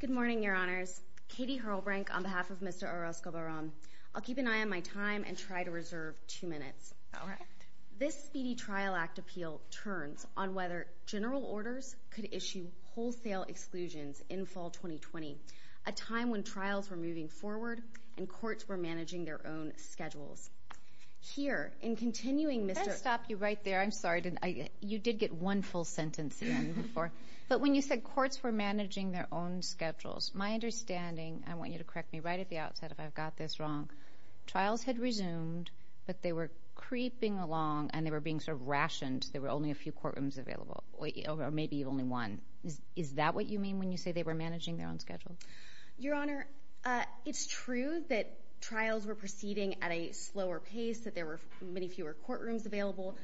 Good morning, your honors. Katie Hurlbrink on behalf of Mr. Orozco-Barron. I'll keep an eye on my time and try to reserve two minutes. This Speedy Trial Act appeal turns on whether general orders could issue wholesale exclusions in fall 2020, a time when trials were moving forward and courts were managing their own schedules. Here, in continuing Mr. Orozco-Barron. I'll stop you right there. I'm sorry. You did get one full sentence in before. But when you said courts were managing their own schedules, my understanding, I want you to correct me right at the outset if I've got this wrong, trials had resumed, but they were creeping along and they were being sort of rationed. There were only a few courtrooms available, or maybe only one. Is that what you mean when you say they were managing their own schedule? Your honor, it's true that trials were proceeding at a slower pace, that there were many fewer courtrooms available.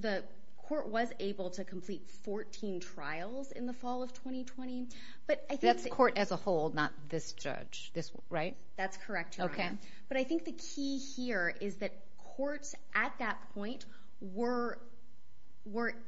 The court was able to complete 14 trials in the fall of 2020. That's court as a whole, not this judge, right? That's correct, Your Honor. But I think the key here is that courts at that point were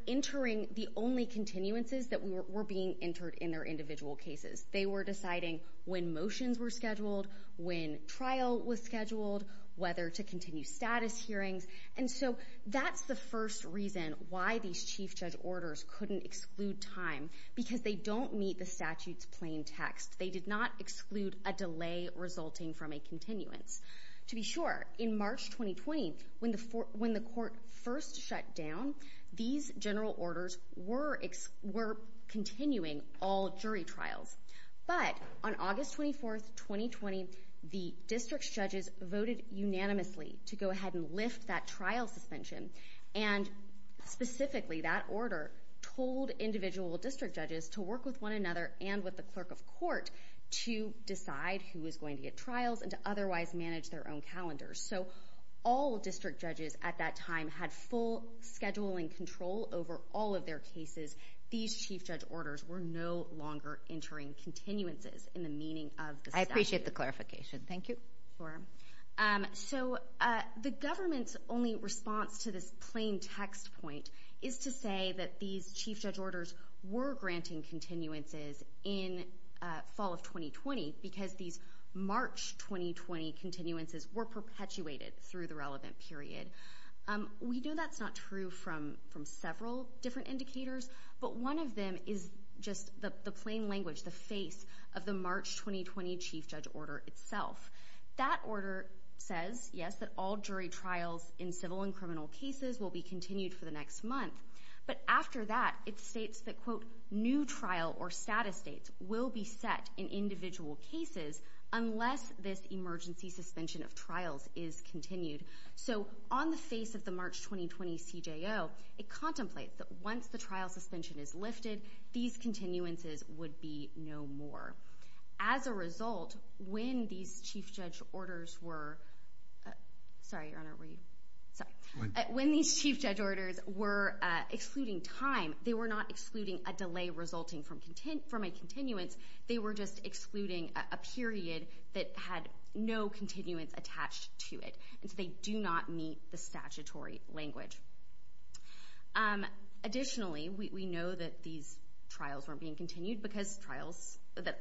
entering the only continuances that were being entered in their individual cases. They were deciding when motions were scheduled, when trial was scheduled, whether to continue status hearings. And so that's the first reason why these chief judge orders couldn't exclude time, because they don't meet the statute's plain text. They did not exclude a delay resulting from a continuance. To be sure, in March 2020, when the court first shut down, these general orders were continuing all jury trials. But on August 24, 2020, the district's judges voted unanimously to go ahead and lift that trial suspension. And specifically, that order told individual district judges to work with one another and with the clerk of court to decide who was going to get trials and to otherwise manage their own calendars. So all district judges at that time had full schedule and control over all of their cases. These chief judge orders were no longer entering continuances in the meaning of the statute. I appreciate the clarification. Thank you. Sure. So the government's only response to this plain text point is to say that these chief judge orders were granting continuances in fall of 2020 because these March 2020 continuances were perpetuated through the relevant period. We know that's not true from several different indicators, but one of them is just the plain language, the face of the March 2020 chief judge order itself. That order says, yes, that all jury trials in civil and criminal cases will be continued for the next month. But after that, it states that, quote, new trial or status dates will be set in individual cases unless this emergency suspension of trials is continued. So on the face of the March 2020 CJO, it contemplates that once the trial suspension is lifted, these continuances would be no more. As a result, when these chief judge orders were excluding time, they were not excluding a delay resulting from a continuance. They were just excluding a period that had no continuance attached to it, and so they do not meet the statutory language. Additionally, we know that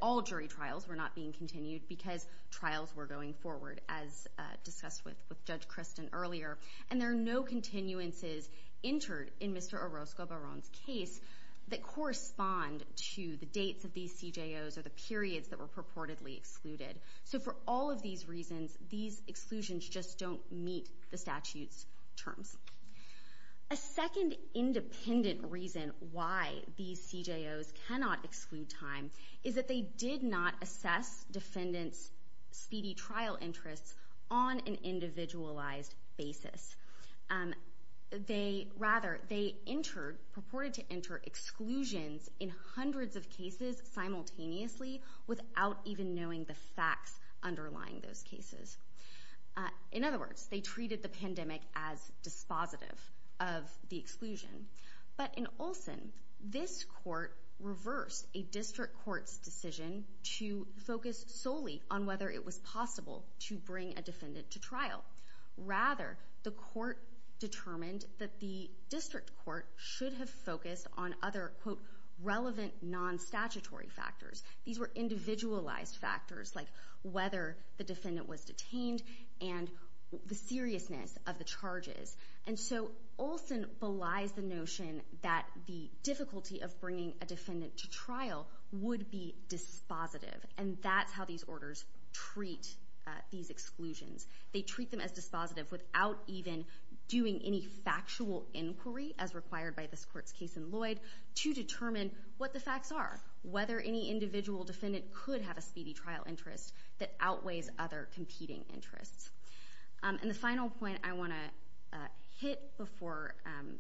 all jury trials were not being continued because trials were going forward, as discussed with Judge Kristen earlier. And there are no continuances entered in Mr. Orozco-Baron's case that correspond to the dates of these CJOs or the periods that were purportedly excluded. So for all of these reasons, these exclusions just don't meet the statute's terms. A second independent reason why these CJOs cannot exclude time is that they did not assess defendants' speedy trial interests on an individualized basis. Rather, they purported to enter exclusions in hundreds of cases simultaneously without even knowing the facts underlying those cases. In other words, they treated the pandemic as dispositive of the exclusion. But in Olson, this court reversed a district court's decision to focus solely on whether it was possible to bring a defendant to trial. Rather, the court determined that the district court should have focused on other, quote, relevant non-statutory factors. These were individualized factors, like whether the defendant was detained and the seriousness of the charges. And so Olson belies the notion that the difficulty of bringing a defendant to trial would be dispositive, and that's how these orders treat these exclusions. They treat them as dispositive without even doing any factual inquiry, as required by this court's case in Lloyd, to determine what the facts are, whether any individual defendant could have a speedy trial interest that outweighs other competing interests. And the final point I want to hit before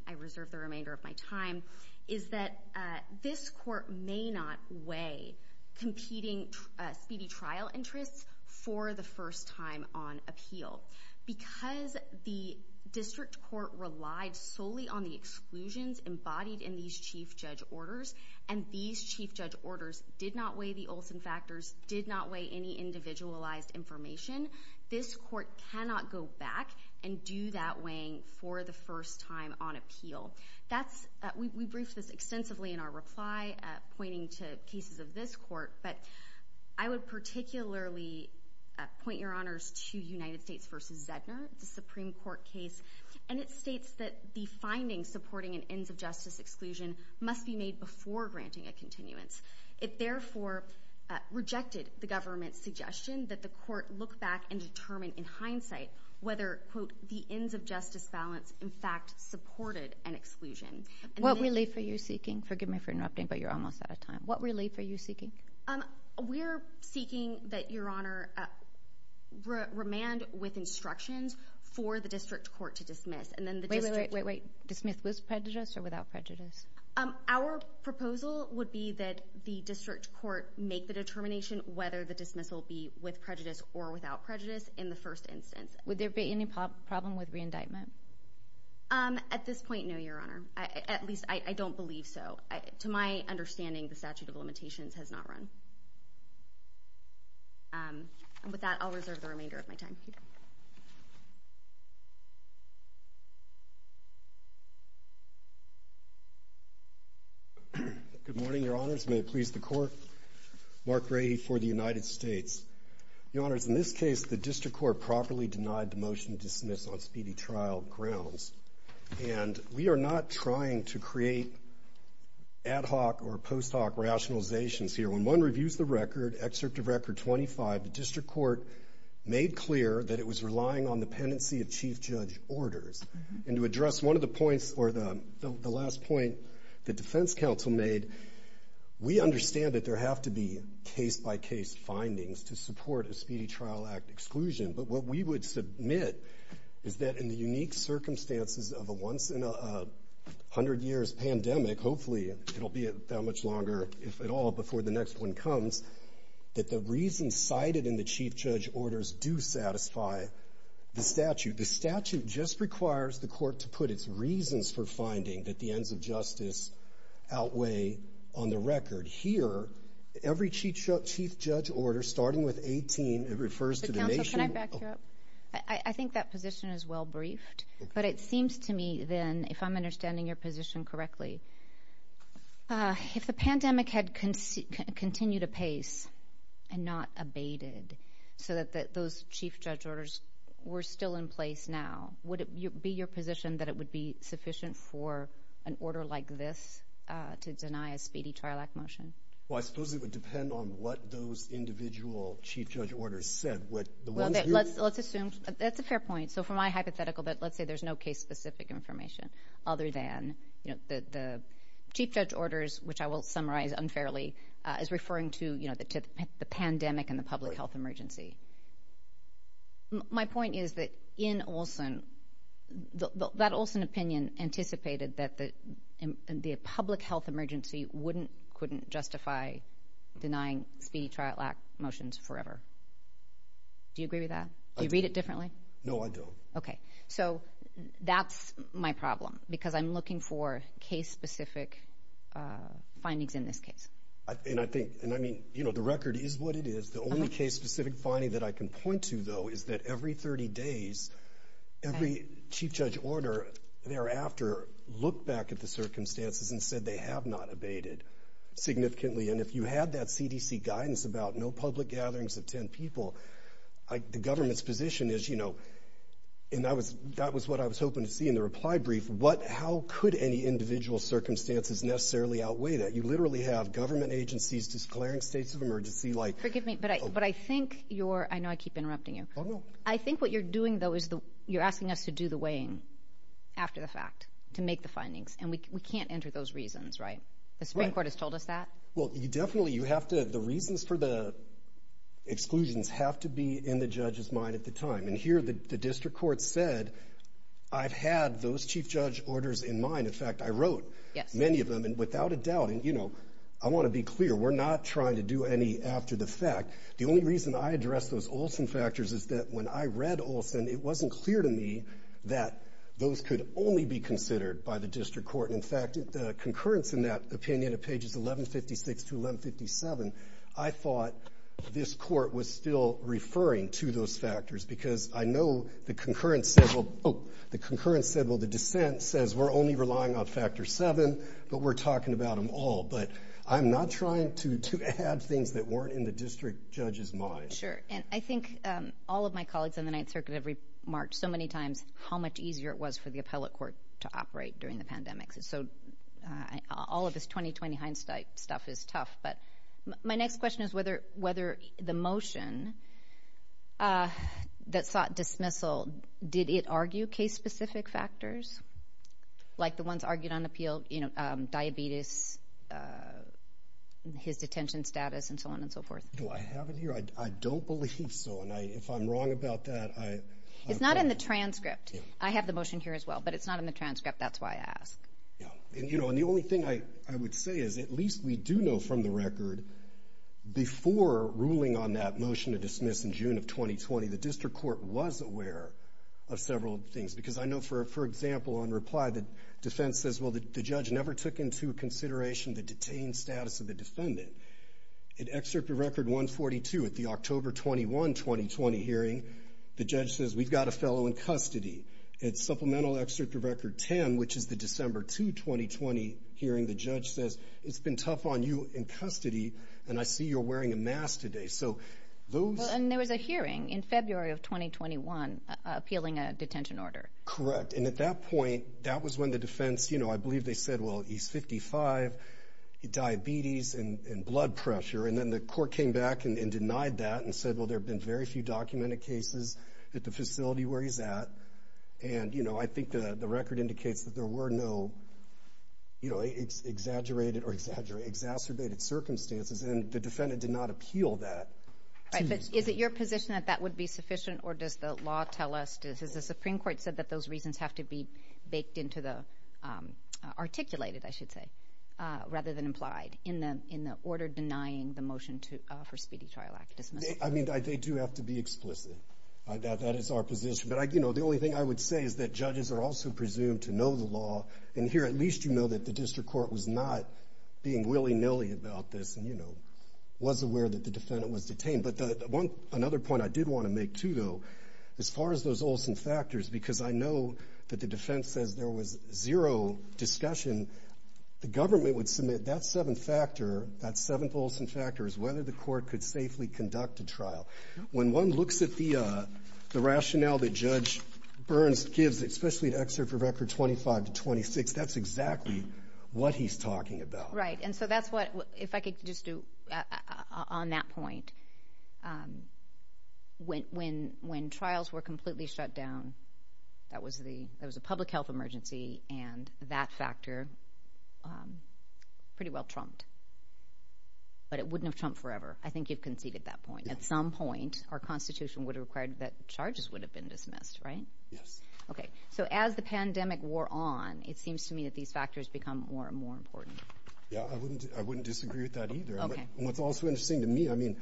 I reserve the remainder of my time is that this court may not weigh competing speedy trial interests for the first time on appeal. Because the district court relied solely on the exclusions embodied in these chief judge orders, and these chief judge orders did not weigh the Olson factors, did not weigh any individualized information, this court cannot go back and do that weighing for the first time on appeal. We briefed this extensively in our reply, pointing to cases of this court, but I would particularly point your honors to United States v. Zedner, the Supreme Court case, and it states that the findings supporting an ends-of-justice exclusion must be made before granting a continuance. It therefore rejected the government's suggestion that the court look back and determine in hindsight whether, quote, the ends-of-justice balance in fact supported an exclusion. What relief are you seeking? Forgive me for interrupting, but you're almost out of time. What relief are you seeking? We're seeking that your honor remand with instructions for the district court to dismiss. Wait, wait, wait, wait. Dismissed with prejudice or without prejudice? Our proposal would be that the district court make the determination whether the dismissal be with prejudice or without prejudice in the first instance. Would there be any problem with re-indictment? At this point, no, your honor. At least I don't believe so. To my understanding, the statute of limitations has not run. And with that, I'll reserve the remainder of my time. Good morning, your honors. May it please the court. Mark Grady for the United States. Your honors, in this case, the district court properly denied the motion to dismiss on speedy trial grounds, and we are not trying to create ad hoc or post hoc rationalizations here. When one reviews the record, excerpt of record 25, the district court made clear that it was relying on the penancy of chief judge orders. And to address one of the points or the last point the defense counsel made, we understand that there have to be case-by-case findings to support a speedy trial act exclusion. But what we would submit is that in the unique circumstances of a once in a hundred years pandemic, hopefully it'll be that much longer, if at all, before the next one comes, that the reasons cited in the chief judge orders do satisfy the statute. The statute just requires the court to put its reasons for finding that the ends of justice outweigh on the record. Here, every chief judge order, starting with 18, it refers to the nation. Counsel, can I back you up? I think that position is well briefed. But it seems to me, then, if I'm understanding your position correctly, if the pandemic had continued apace and not abated so that those chief judge orders were still in place now, would it be your position that it would be sufficient for an order like this to deny a speedy trial act motion? Well, I suppose it would depend on what those individual chief judge orders said. Let's assume that's a fair point. So from my hypothetical, let's say there's no case-specific information other than the chief judge orders, which I will summarize unfairly as referring to the pandemic and the public health emergency. My point is that in Olson, that Olson opinion anticipated that the public health emergency wouldn't, couldn't justify denying speedy trial act motions forever. Do you agree with that? Do you read it differently? No, I don't. Okay. So that's my problem because I'm looking for case-specific findings in this case. And I think, and I mean, you know, the record is what it is. The only case-specific finding that I can point to, though, is that every 30 days, every chief judge order thereafter looked back at the circumstances and said they have not abated significantly. And if you had that CDC guidance about no public gatherings of 10 people, the government's position is, you know, and that was what I was hoping to see in the reply brief, how could any individual circumstances necessarily outweigh that? You literally have government agencies declaring states of emergency like- Forgive me, but I think you're, I know I keep interrupting you. Oh, no. I think what you're doing, though, is you're asking us to do the weighing after the fact to make the findings, and we can't enter those reasons, right? The Supreme Court has told us that. Well, definitely you have to, the reasons for the exclusions have to be in the judge's mind at the time. And here the district court said, I've had those chief judge orders in mind. In fact, I wrote many of them. And without a doubt, and, you know, I want to be clear, we're not trying to do any after the fact. The only reason I addressed those Olson factors is that when I read Olson, it wasn't clear to me that those could only be considered by the district court. In fact, the concurrence in that opinion of pages 1156 to 1157, I thought this court was still referring to those factors because I know the concurrence said, well, the dissent says we're only relying on factor seven, but we're talking about them all. But I'm not trying to add things that weren't in the district judge's mind. Sure. And I think all of my colleagues in the Ninth Circuit have remarked so many times how much easier it was for the appellate court to operate during the pandemic. So all of this 2020 Heinstein stuff is tough. But my next question is whether the motion that sought dismissal, did it argue case-specific factors, like the ones argued on appeal, you know, diabetes, his detention status, and so on and so forth? Do I have it here? I don't believe so. And if I'm wrong about that, I... It's not in the transcript. I have the motion here as well, but it's not in the transcript. That's why I asked. Yeah. And, you know, the only thing I would say is at least we do know from the record, before ruling on that motion to dismiss in June of 2020, the district court was aware of several things. Because I know, for example, on reply, the defense says, well, the judge never took into consideration the detained status of the defendant. At Excerpt of Record 142 at the October 21, 2020 hearing, the judge says, we've got a fellow in custody. At Supplemental Excerpt of Record 10, which is the December 2, 2020 hearing, the judge says, it's been tough on you in custody, and I see you're wearing a mask today. So those... Correct. And at that point, that was when the defense, you know, I believe they said, well, he's 55, diabetes, and blood pressure. And then the court came back and denied that and said, well, there have been very few documented cases at the facility where he's at. And, you know, I think the record indicates that there were no, you know, exaggerated or exacerbated circumstances, and the defendant did not appeal that. Right. But is it your position that that would be sufficient, or does the law tell us? Has the Supreme Court said that those reasons have to be baked into the articulated, I should say, rather than implied in the order denying the motion for Speedy Trial Act dismissal? I mean, they do have to be explicit. That is our position. But, you know, the only thing I would say is that judges are also presumed to know the law. And here, at least you know that the district court was not being willy-nilly about this and, you know, was aware that the defendant was detained. But another point I did want to make, too, though, as far as those Olson factors, because I know that the defense says there was zero discussion, the government would submit that seventh factor, that seventh Olson factor, as whether the court could safely conduct a trial. When one looks at the rationale that Judge Burns gives, especially an excerpt from Record 25 to 26, that's exactly what he's talking about. Right. And so that's what, if I could just do, on that point, when trials were completely shut down, that was a public health emergency, and that factor pretty well trumped. But it wouldn't have trumped forever. I think you've conceded that point. At some point, our Constitution would have required that charges would have been dismissed, right? Yes. Okay. So as the pandemic wore on, it seems to me that these factors become more and more important. Yeah. I wouldn't disagree with that either. Okay. What's also interesting to me, I mean,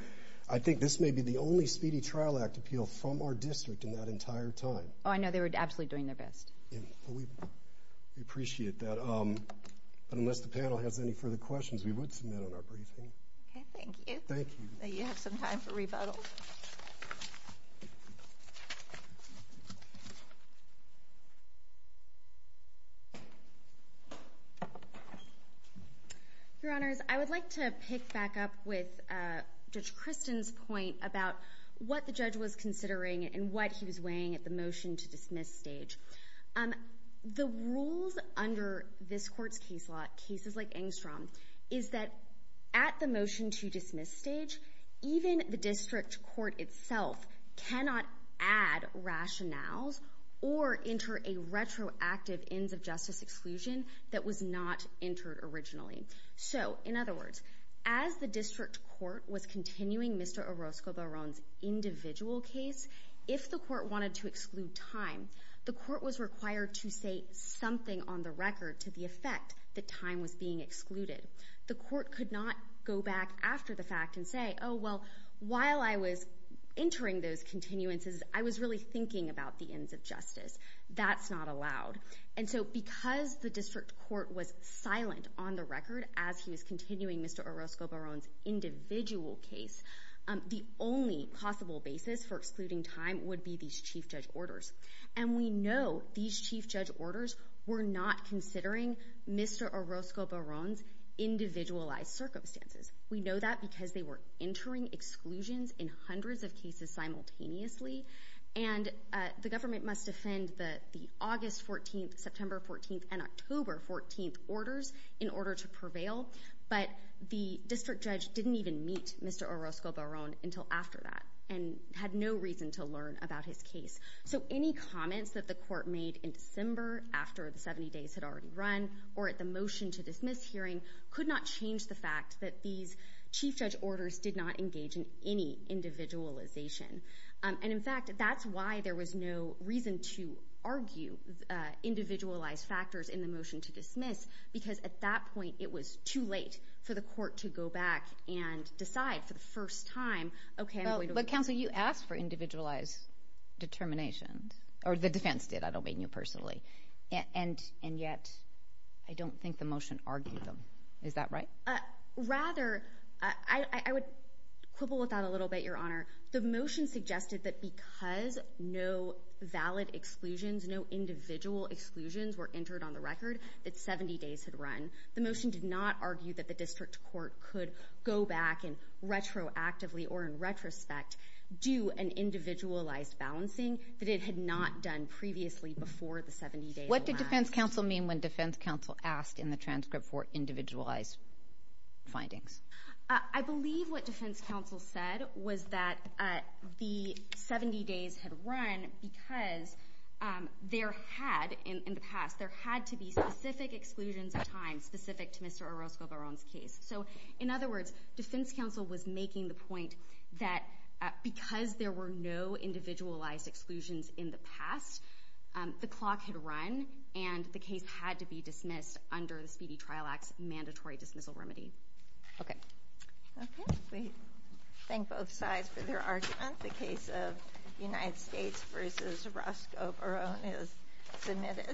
I think this may be the only speedy trial act appeal from our district in that entire time. Oh, I know. They were absolutely doing their best. Yeah. We appreciate that. But unless the panel has any further questions, we would submit on our briefing. Okay. Thank you. Thank you. Now you have some time for rebuttal. Your Honors, I would like to pick back up with Judge Kristen's point about what the judge was considering and what he was weighing at the motion-to-dismiss stage. The rules under this Court's case law, cases like Engstrom, is that at the motion-to-dismiss stage, even the district court itself cannot add rationales or enter a retroactive ends-of-justice exclusion that was not entered originally. So, in other words, as the district court was continuing Mr. Orozco-Baron's individual case, if the court wanted to exclude time, the court was required to say something on the record to the effect that time was being excluded. The court could not go back after the fact and say, oh, well, while I was entering those continuances, I was really thinking about the ends-of-justice. That's not allowed. And so because the district court was silent on the record as he was continuing Mr. Orozco-Baron's individual case, the only possible basis for excluding time would be these chief judge orders. And we know these chief judge orders were not considering Mr. Orozco-Baron's individualized circumstances. We know that because they were entering exclusions in hundreds of cases simultaneously, and the government must defend the August 14th, September 14th, and October 14th orders in order to prevail. But the district judge didn't even meet Mr. Orozco-Baron until after that and had no reason to learn about his case. So any comments that the court made in December after the 70 days had already run or at the motion to dismiss hearing could not change the fact that these chief judge orders did not engage in any individualization. And, in fact, that's why there was no reason to argue individualized factors in the motion to dismiss, because at that point it was too late for the court to go back and decide for the first time, okay, I'm going to— Counsel, you asked for individualized determinations, or the defense did, I don't mean you personally, and yet I don't think the motion argued them. Is that right? Rather, I would quibble with that a little bit, Your Honor. The motion suggested that because no valid exclusions, no individual exclusions were entered on the record that 70 days had run, the motion did not argue that the district court could go back and retroactively or in retrospect do an individualized balancing that it had not done previously before the 70 days had run. What did defense counsel mean when defense counsel asked in the transcript for individualized findings? I believe what defense counsel said was that the 70 days had run because there had, in the past, there had to be specific exclusions of time specific to Mr. Orozco-Baron's case. So, in other words, defense counsel was making the point that because there were no individualized exclusions in the past, the clock had run and the case had to be dismissed under the Speedy Trial Act's mandatory dismissal remedy. Okay. Okay. We thank both sides for their argument. The case of United States v. Orozco-Baron is submitted.